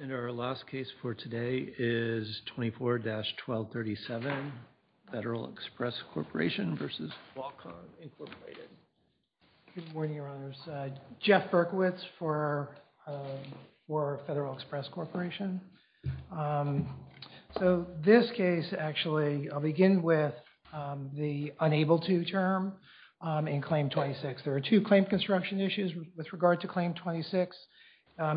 And our last case for today is 24-1237 Federal Express Corporation v. Qualcomm Incorporated. Good morning, Your Honors. Jeff Berkowitz for Federal Express Corporation. So this case actually, I'll begin with the unable to term in Claim 26. There are two claim construction issues with regard to Claim 26.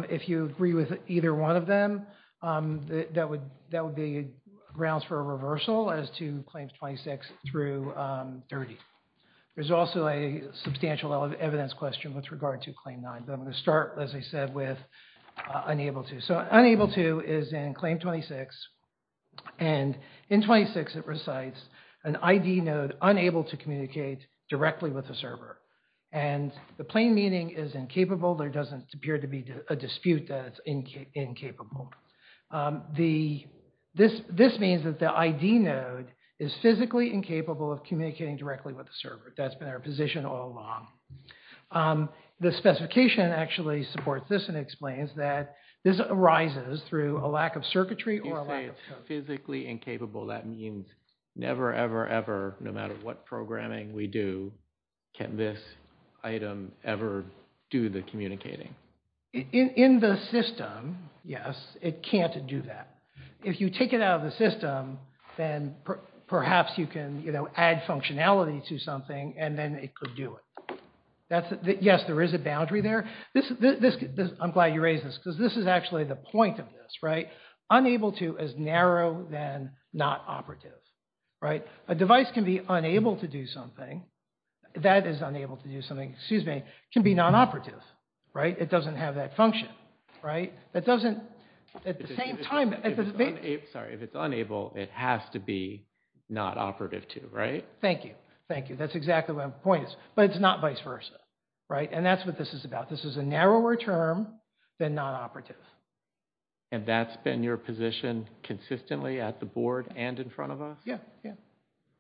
If you agree with either one of them, that would be grounds for a reversal as to Claims 26 through 30. There's also a substantial evidence question with regard to Claim 9. But I'm going to start, as I said, with unable to. So unable to is in Claim 26. And in 26, it recites an ID node unable to communicate directly with the server. And the plain meaning is incapable. There doesn't appear to be a dispute that it's incapable. This means that the ID node is physically incapable of communicating directly with the server. That's been our position all along. The specification actually supports this and explains that this arises through a lack of circuitry or a lack of code. You say it's physically In the system, yes, it can't do that. If you take it out of the system, then perhaps you can, you know, add functionality to something and then it could do it. Yes, there is a boundary there. I'm glad you raised this because this is actually the point of this, right? Unable to is narrow than not operative, right? A device can be unable to do something, that is unable to do something, excuse me, can be non-operative, right? It doesn't have that function, right? That doesn't, at the same time... Sorry, if it's unable, it has to be not operative too, right? Thank you. Thank you. That's exactly what my point is. But it's not vice versa, right? And that's what this is about. This is a narrower term than non-operative. And that's been your position consistently at the board and in front of us? Yeah, yeah.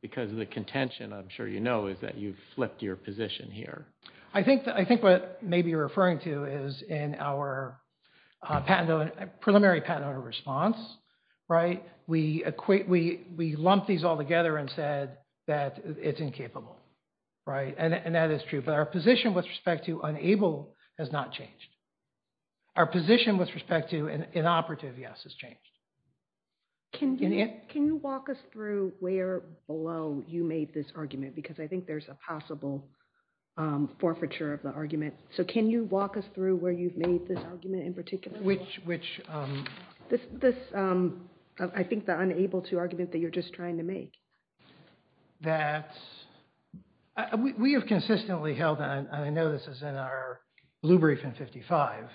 Because of the contention, I'm sure you know, is that you've flipped your position here. I think what maybe you're referring to is in our preliminary patent owner response, right? We lumped these all together and said that it's incapable, right? And that is true. But our position with respect to unable has not changed. Our position with respect to an inoperative, yes, has changed. Can you walk us through where below you made this argument? Because I think there's a possible forfeiture of the argument. So can you walk us through where you've made this argument in particular? Which... I think the unable to argument that you're just trying to make. That's... We have consistently held on, and I know this is in our blue brief in 55,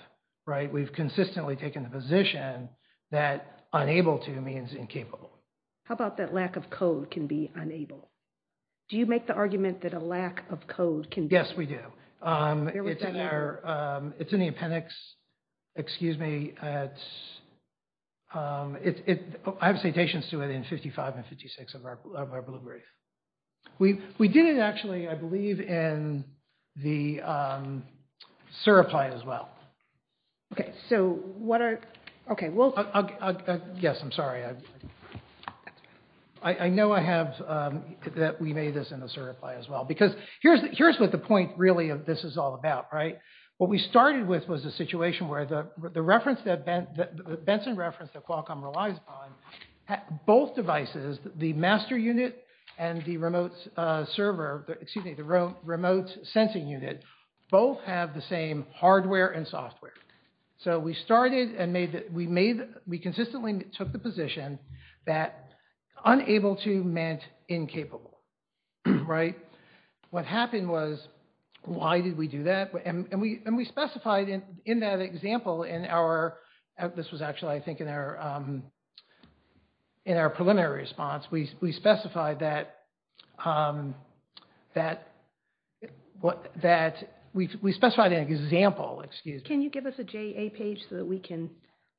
right? We've consistently taken the position that unable to means incapable. How about that lack of code can be unable? Do you make the argument that a lack of code can... Yes, we do. It's in our... It's in 55 and 56 of our blue brief. We did it actually, I believe, in the Surapply as well. Okay, so what are... Okay, we'll... Yes, I'm sorry. I know I have... That we made this in the Surapply as well. Because here's what the point really of this is all about, right? What we started with was a situation where the reference that Benson referenced that Qualcomm relies upon, both devices, the master unit and the remote server, excuse me, the remote sensing unit, both have the same hardware and software. So we started and made... We made... We consistently took the position that unable to meant incapable, right? What happened was, why did we do that? And we specified in that example in our... This was actually I think in our preliminary response. We specified that... We specified an example, excuse me. Can you give us a JA page so that we can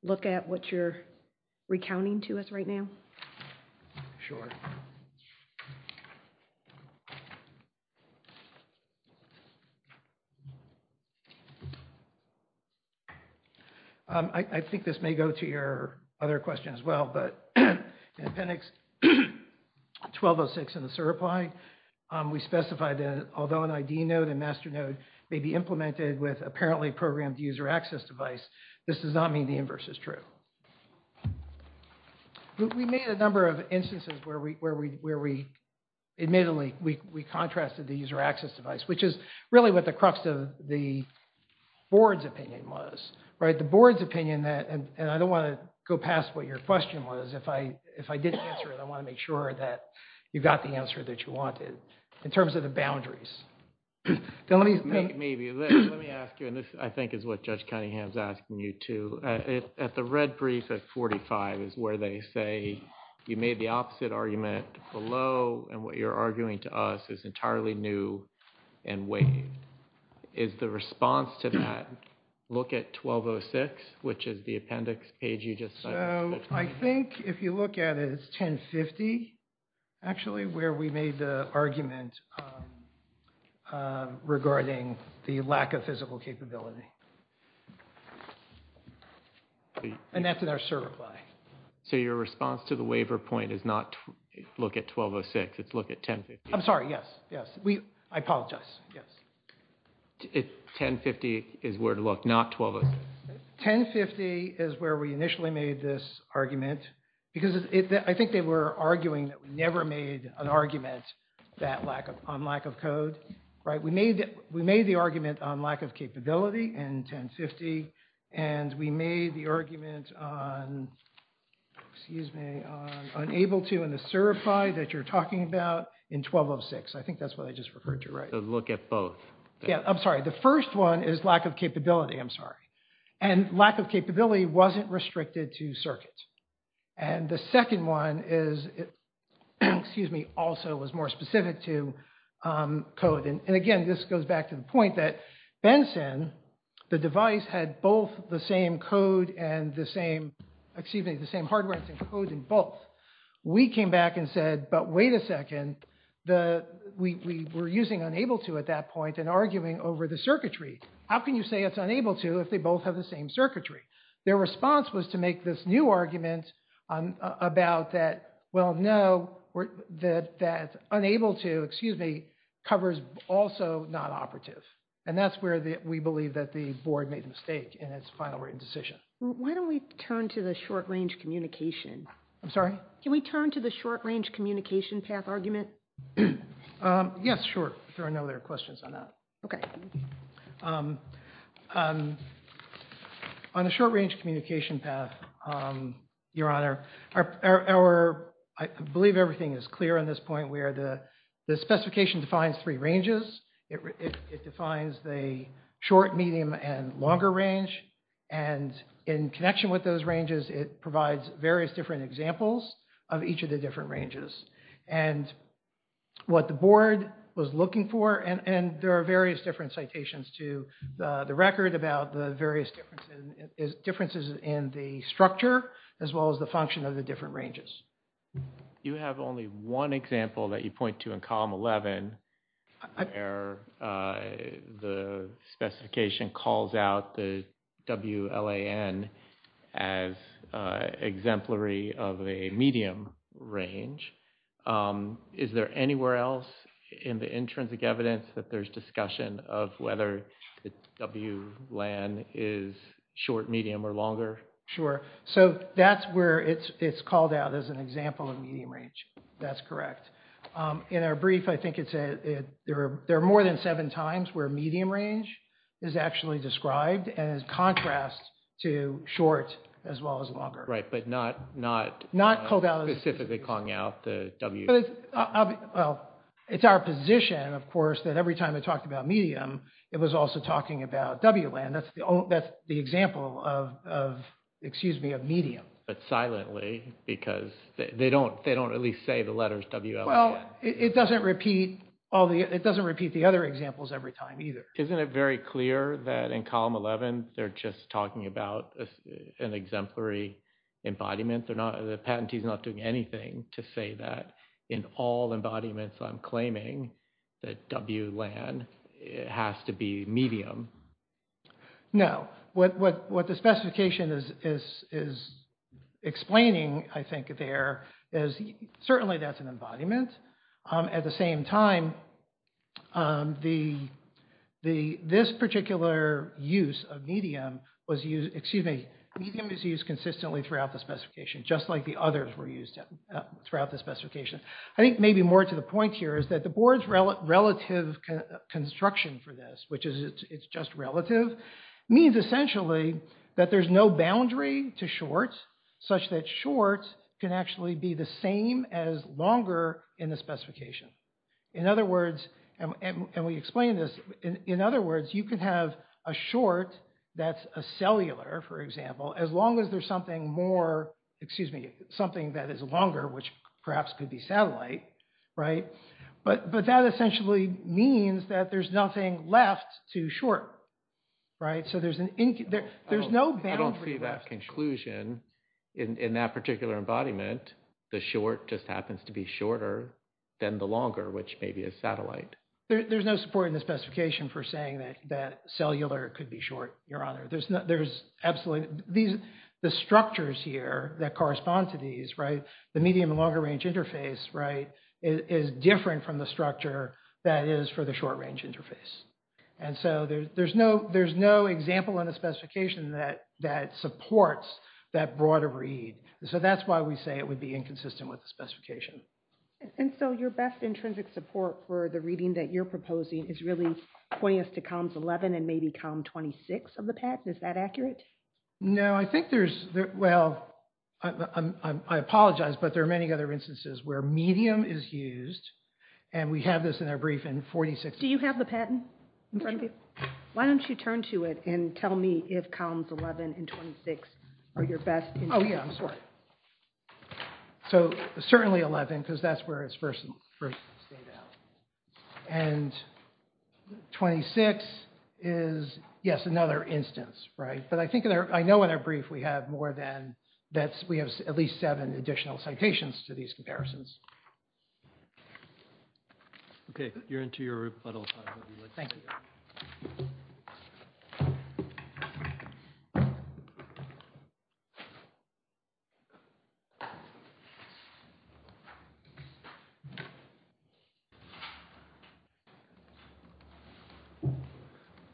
look at what you're recounting to us right now? Sure. I think this may go to your other question as well, but in appendix 1206 in the Surapply, we specified that although an ID node and master node may be implemented with apparently programmed user access device, this does not mean the inverse is true. We made a number of instances where we admittedly, we contrasted the user access device, which is really what the crux of the board's opinion was, right? The board's opinion that, and I don't want to go past what your question was. If I didn't answer it, I want to make sure that you got the answer that you wanted in terms of the boundaries. Maybe. Let me ask you, and this I think is what Judge Cunningham's asking you too. At the red brief at 45 is where they say you made the opposite argument below, and what you're arguing to us is entirely new and waived. Is the response to that look at 1206, which is the appendix page you just... So I think if you look at it, it's 1050 actually, where we made the argument regarding the lack of physical capability. And that's in our CER reply. So your response to the waiver point is not look at 1206, it's look at 1050. I'm sorry. Yes. Yes. I apologize. Yes. 1050 is where to look, not 1206. 1050 is where we initially made this argument, because I think they were arguing that we never made an argument on lack of code, right? We made the argument on lack of capability in 1050, and we made the argument on, excuse me, on unable to in the CER reply that you're talking about in 1206. I think that's what I just referred to, right? So look at both. Yeah. I'm sorry. The first one is lack of capability. I'm sorry. And lack of capability wasn't restricted to circuits. And the second one is, excuse me, also was more specific to code. And again, this goes back to the point that Benson, the device had both the same code and the same, excuse me, the same hardware and code in both. We came back and said, but wait a second, we were using unable to at that point and arguing over the circuitry. How can you say it's unable to if they both have the same circuitry? Their response was to make this new argument about that, well, no, that unable to, excuse me, covers also not operative. And that's where we believe that the board made the mistake in its final written decision. Why don't we turn to the short-range communication? I'm sorry? Can we turn to the short-range communication path argument? Yes, sure. I know there are questions on that. Okay. On a short-range communication path, Your Honor, our, I believe everything is clear on this point where the specification defines three ranges. It defines the short, medium, and longer range. And in connection with those ranges, it provides various different examples of each of the different ranges. And what the board was looking for, and there are various different citations to the record about the various differences in the structure, as well as the function of the different ranges. You have only one example that you point to in column 11 where the specification calls out the WLAN as exemplary of a medium range. Is there anywhere else in the intrinsic evidence that there's discussion of whether the WLAN is short, medium, or longer? Sure. So that's where it's called out as an example of medium range. That's correct. In our brief, I think there are more than seven times where medium range is actually described as contrast to short as well as longer. Right, but not specifically calling out the W. Well, it's our position, of course, that every time it talked about medium, it was also talking about WLAN. That's the example of, excuse me, of medium. But silently, because they don't at least say the letters WLAN. Well, it doesn't repeat the other examples every time either. Isn't it very clear that in column 11, they're just talking about an exemplary embodiment? They're not, the patentee's not doing anything to say that in all embodiments I'm claiming that WLAN has to be medium. No. What the specification is explaining, I think, there is certainly that's an embodiment. At the same time, this particular use of medium was used, excuse me, medium is used consistently throughout the specification, just like the others were used throughout the specification. I think maybe more to the point here is that the board's relative construction for this, which is it's just relative, means essentially that there's no boundary to short, such that short can actually be the same as longer in the specification. In other words, and we explained this, in other words, you could have a short that's a cellular, for example, as long as there's something more, excuse me, something that is longer, which perhaps could be satellite. But that essentially means that there's nothing left to short. So there's no boundary. I don't see that conclusion in that particular embodiment. The short just happens to be shorter than the longer, which may be a satellite. There's no support in the specification for saying that cellular could be short. There's absolutely, the structures here that correspond to these, the medium and longer range interface is different from the structure that is for the short range interface. And so there's no example in a specification that supports that broader read. So that's why we say it would be inconsistent with the specification. And so your best intrinsic support for the reading that you're proposing is really pointing us to columns 11 and maybe column 26 of the patent. Is that accurate? No, I think there's, well, I apologize, but there are many other instances where medium is used. And we have this in our brief in 46. Do you have the patent in front of you? Why don't you turn to it and tell me if columns 11 and 26 are your best? Oh, yeah, I'm sorry. So certainly 11, because that's where it's first stayed out. And 26 is, yes, another instance, right? But I think I know in our brief we have more than that. We have at least seven additional citations to these comparisons. Okay, you're into your rebuttal. Thank you.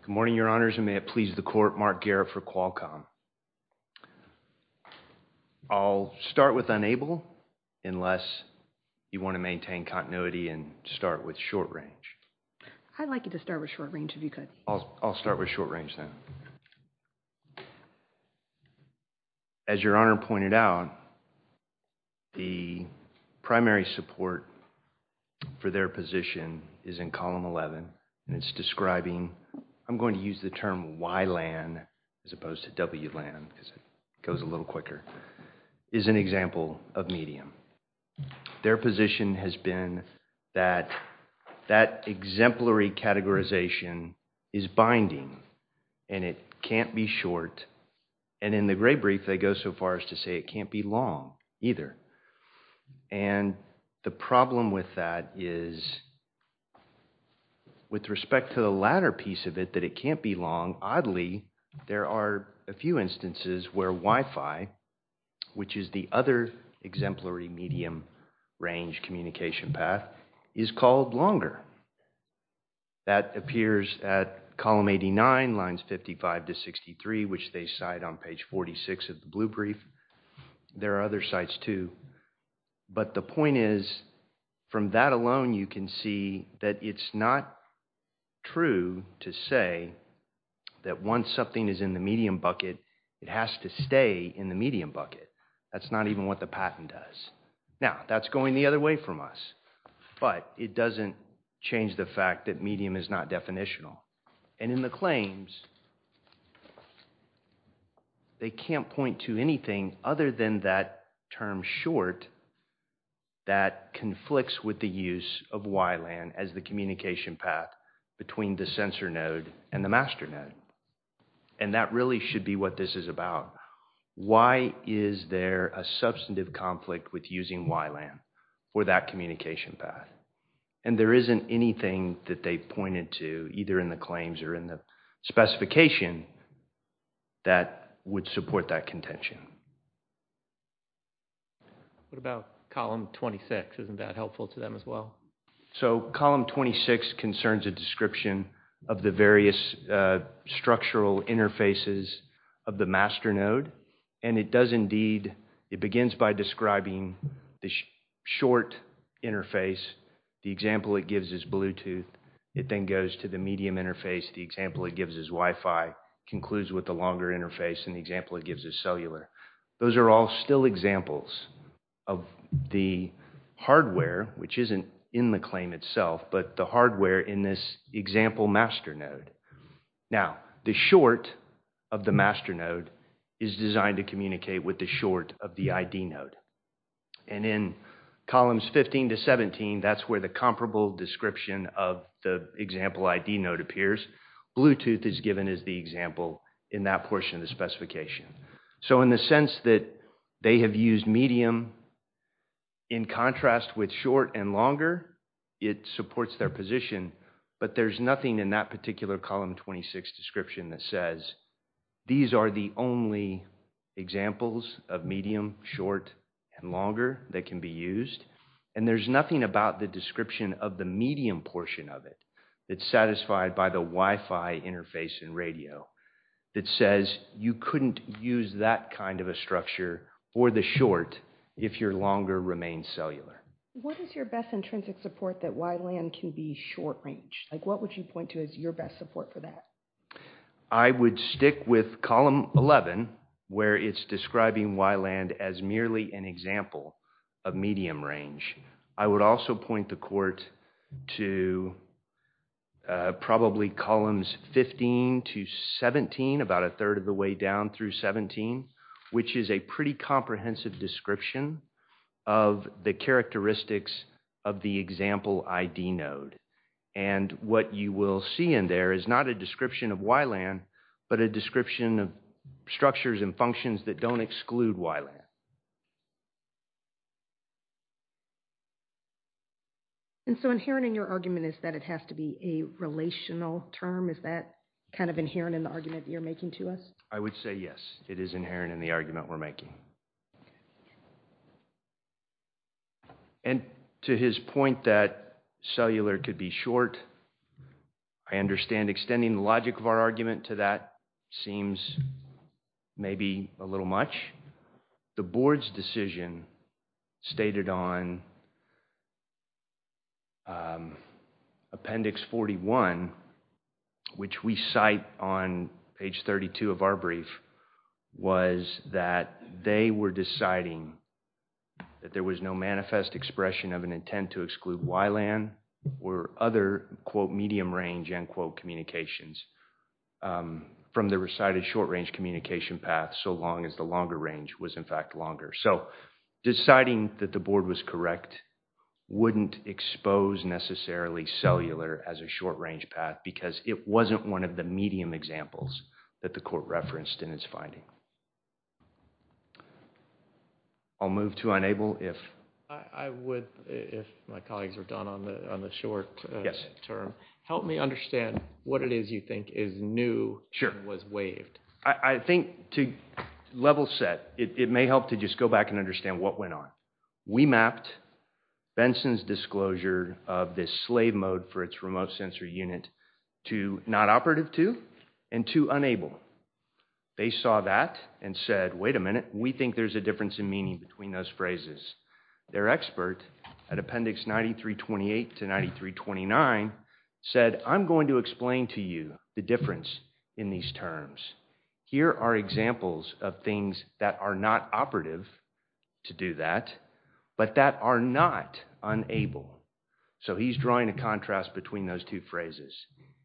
Good morning, Your Honors, and may it please the court, Mark Garrett for Qualcomm. I'll start with unable unless you want to maintain continuity and start with short range. I'd like you to start with short range if you could. I'll start with short range then. As Your Honor pointed out, the primary support for their position is in column 11. And it's describing, I'm going to use the term YLAN as opposed to WLAN because it goes a little quicker, is an example of medium. Their position has been that that exemplary categorization is binding. And it can't be short. And in the gray brief, they go so far as to say it can't be long either. And the problem with that is with respect to the latter piece of it, that it can't be long. Oddly, there are a few instances where Wi-Fi, which is the other exemplary medium range communication path, is called longer. That appears at column 89, lines 55 to 63, which they cite on page 46 of the blue brief. There are other sites too. But the point is, from that alone, you can see that it's not true to say that once something is in the medium bucket, it has to stay in the medium bucket. That's not even what the patent does. Now, that's going the other way from us. But it doesn't change the fact that medium is not definitional. And in the claims, they can't point to anything other than that term short that conflicts with the use of YLAN as the communication path between the sensor node and the master node. And that really should be what this is about. Why is there a substantive conflict with using YLAN for that communication path? And there isn't anything that they pointed to, either in the claims or in the specification, that would support that contention. What about column 26? Isn't that helpful to them as well? So column 26 concerns a description of the various structural interfaces of the master node. It begins by describing the short interface. The example it gives is Bluetooth. It then goes to the medium interface. The example it gives is Wi-Fi, concludes with the longer interface. And the example it gives is cellular. Those are all still examples of the hardware, which isn't in the claim itself, but the hardware in this example master node. Now, the short of the master node is designed to communicate with the short of the ID node. And in columns 15 to 17, that's where the comparable description of the example ID node appears. Bluetooth is given as the example in that portion of the specification. So in the sense that they have used medium in contrast with short and longer, it supports their position. But there's nothing in that particular column 26 description that says these are the only examples of medium, short, and longer that can be used. And there's nothing about the description of the medium portion of it that's satisfied by the Wi-Fi interface and radio that says you couldn't use that kind of a structure or the short if your longer remains cellular. What is your best intrinsic support that YLAN can be short range? Like, what would you point to as your best support for that? I would stick with column 11, where it's describing YLAN as merely an example of medium range. I would also point the court to probably columns 15 to 17, about a third of the way down through 17, which is a pretty comprehensive description of the characteristics of the example ID node. And what you will see in there is not a description of YLAN, but a description of structures and functions that don't exclude YLAN. And so inherent in your argument is that it has to be a relational term. Is that kind of inherent in the argument you're making to us? I would say yes, it is inherent in the argument we're making. And to his point that cellular could be short, I understand extending the logic of our argument to that seems maybe a little much. The board's decision stated on appendix 41, which we cite on page 32 of our brief, was that they were deciding that there was no manifest expression of an intent to exclude YLAN or other quote medium range end quote communications from the recited short range communication path, so long as the longer range was in fact longer. So deciding that the board was correct wouldn't expose necessarily cellular as a short range path because it wasn't one of the medium examples that the court referenced in its finding. I'll move to unable if. I would, if my colleagues are done on the short term, help me understand what it is you think is new and was waived. I think to level set, it may help to just go back and understand what went on. We mapped Benson's disclosure of this slave mode for its remote sensor unit to not operative to and to unable. They saw that and said, wait a minute, we think there's a difference in meaning between those phrases. Their expert at appendix 9328 to 9329 said, I'm going to explain to you the difference in these terms. Here are examples of things that are not operative to do that, but that are not unable. So he's drawing a contrast between those two phrases.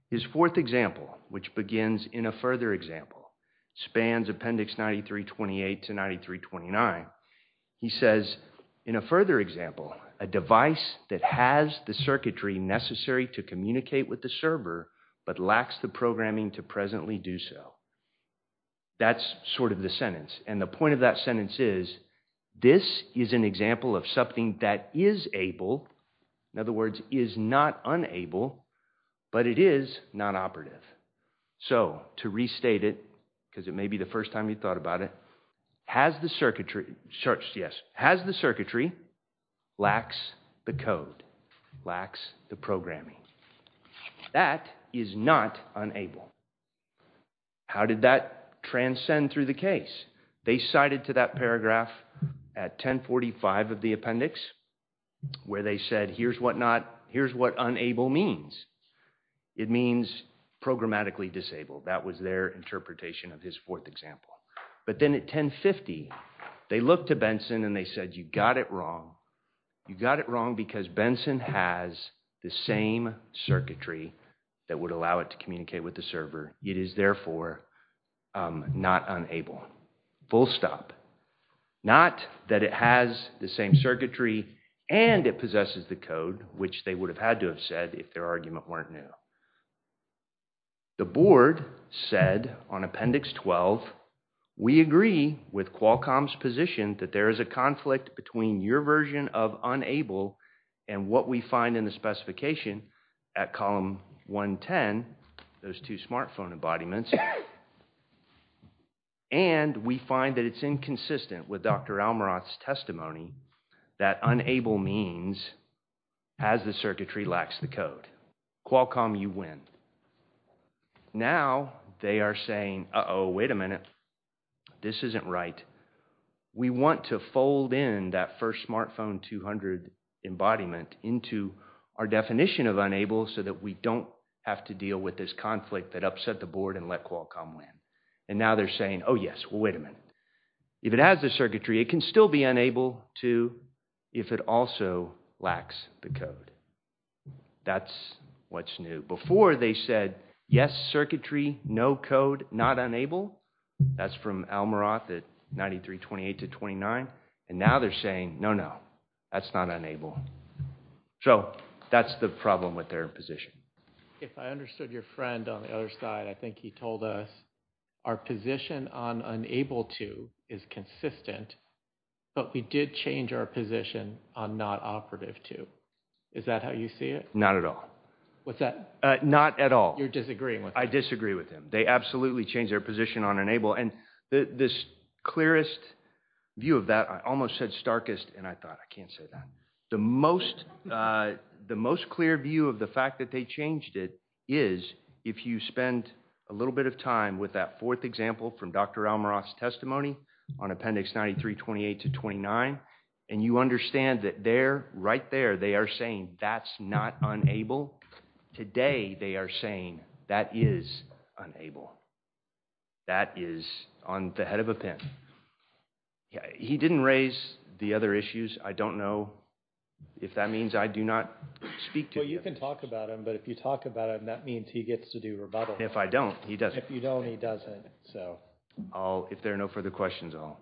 His fourth example, which begins in a further example, spans appendix 9328 to 9329. He says, in a further example, a device that has the circuitry necessary to communicate with the server, but lacks the programming to presently do so. That's sort of the sentence. And the point of that sentence is, this is an example of something that is able, in other words, is not unable, but it is not operative. So to restate it, because it may be the first time you thought about it, has the circuitry, yes, has the circuitry, lacks the code, lacks the programming. That is not unable. How did that transcend through the case? They cited to that paragraph at 1045 of the appendix, where they said, here's what not, here's what unable means. It means programmatically disabled. That was their interpretation of his fourth example. But then at 1050, they looked to Benson and they said, you got it wrong. You got it wrong because Benson has the same circuitry that would allow it to communicate with the server. It is therefore not unable. Full stop. Not that it has the same circuitry and it possesses the code, which they would have had to have said if their argument weren't new. The board said on appendix 12, we agree with Qualcomm's position that there is a conflict between your version of unable and what we find in the specification at column 110, those two smartphone embodiments. And we find that it's inconsistent with Dr. Almiroth's testimony that unable means as the circuitry lacks the code. Qualcomm, you win. Now they are saying, uh-oh, wait a minute, this isn't right. We want to fold in that first smartphone 200 embodiment into our definition of unable so that we don't have to deal with this conflict that upset the board and let Qualcomm win. And now they're saying, oh, yes, well, wait a minute. If it has the circuitry, it can still be unable to if it also lacks the code. That's what's new. Before they said, yes, circuitry, no code, not unable. That's from Almiroth at 9328 to 29. And now they're saying, no, no, that's not unable. So that's the problem with their position. If I understood your friend on the other side, I think he told us our position on unable to is consistent, but we did change our position on not operative to. Is that how you see it? Not at all. What's that? Not at all. You're disagreeing with them. I disagree with them. They absolutely changed their position on unable. And this clearest view of that, I almost said starkest, and I thought, I can't say that. The most clear view of the fact that they changed it is if you spend a little bit of time with that fourth example from Dr. Almiroth's testimony on appendix 9328 to 29, and you understand that there, right there, they are saying that's not unable. Today, they are saying that is unable. That is on the head of a pin. He didn't raise the other issues. I don't know if that means I do not speak to him. Well, you can talk about him, but if you talk about him, that means he gets to do rebuttal. If I don't, he doesn't. If you don't, he doesn't, so. If there are no further questions, I'll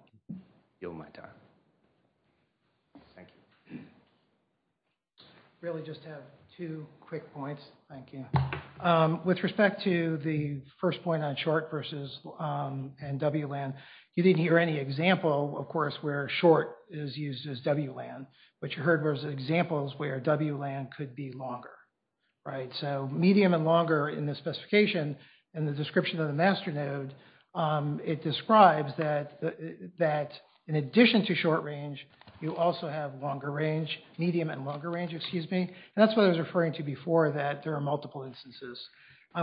yield my time. Thank you. Really just have two quick points. Thank you. With respect to the first point on short versus WLAN, you didn't hear any example, of course, where short is used as WLAN, but you heard those examples where WLAN could be longer, right? So medium and longer in the specification and the description of the master node, it describes that in addition to short range, you also have longer range, medium and longer range, excuse me. And that's what I was referring to before, that there are multiple instances.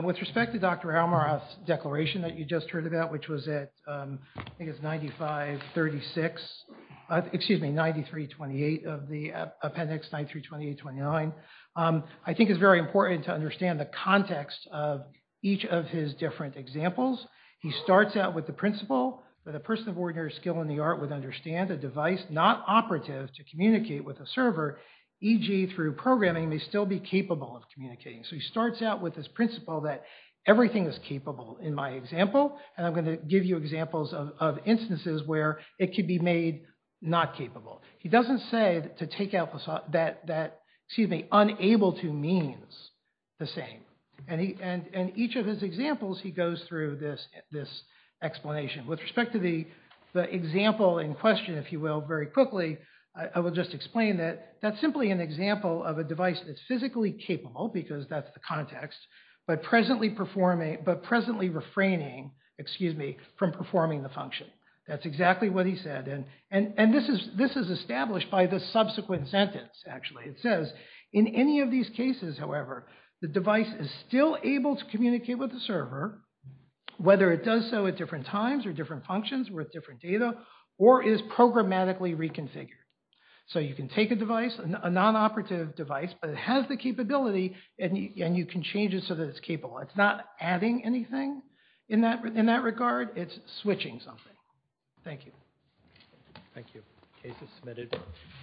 With respect to Dr. Almiroth's declaration that you just heard about, which was at, I think it's 95, 36, excuse me, 93, 28 of the appendix 93, 28, 29, I think it's very important to understand the context of each of his different examples. He starts out with the principle that a person of ordinary skill in the art would understand a device not operative to communicate with a server, e.g. through programming may still be capable of communicating. So he starts out with this principle that everything is capable in my example, and I'm going to give you examples of instances where it could be made not capable. He doesn't say to take out that, excuse me, unable to means the same. And each of his examples, he goes through this explanation. With respect to the example in question, if you will, very quickly, I will just explain that that's simply an example of a device that's physically capable because that's the context, but presently performing, but presently refraining, excuse me, from performing the function. That's exactly what he said. And this is established by the subsequent sentence. Actually, it says, in any of these cases, however, the device is still able to communicate with the server, whether it does so at different times or different functions with different data or is programmatically reconfigured. So you can take a device, a non-operative device, but it has the capability and you can change it so that it's capable. It's not adding anything in that regard. It's switching something. Thank you. Thank you. Case is submitted.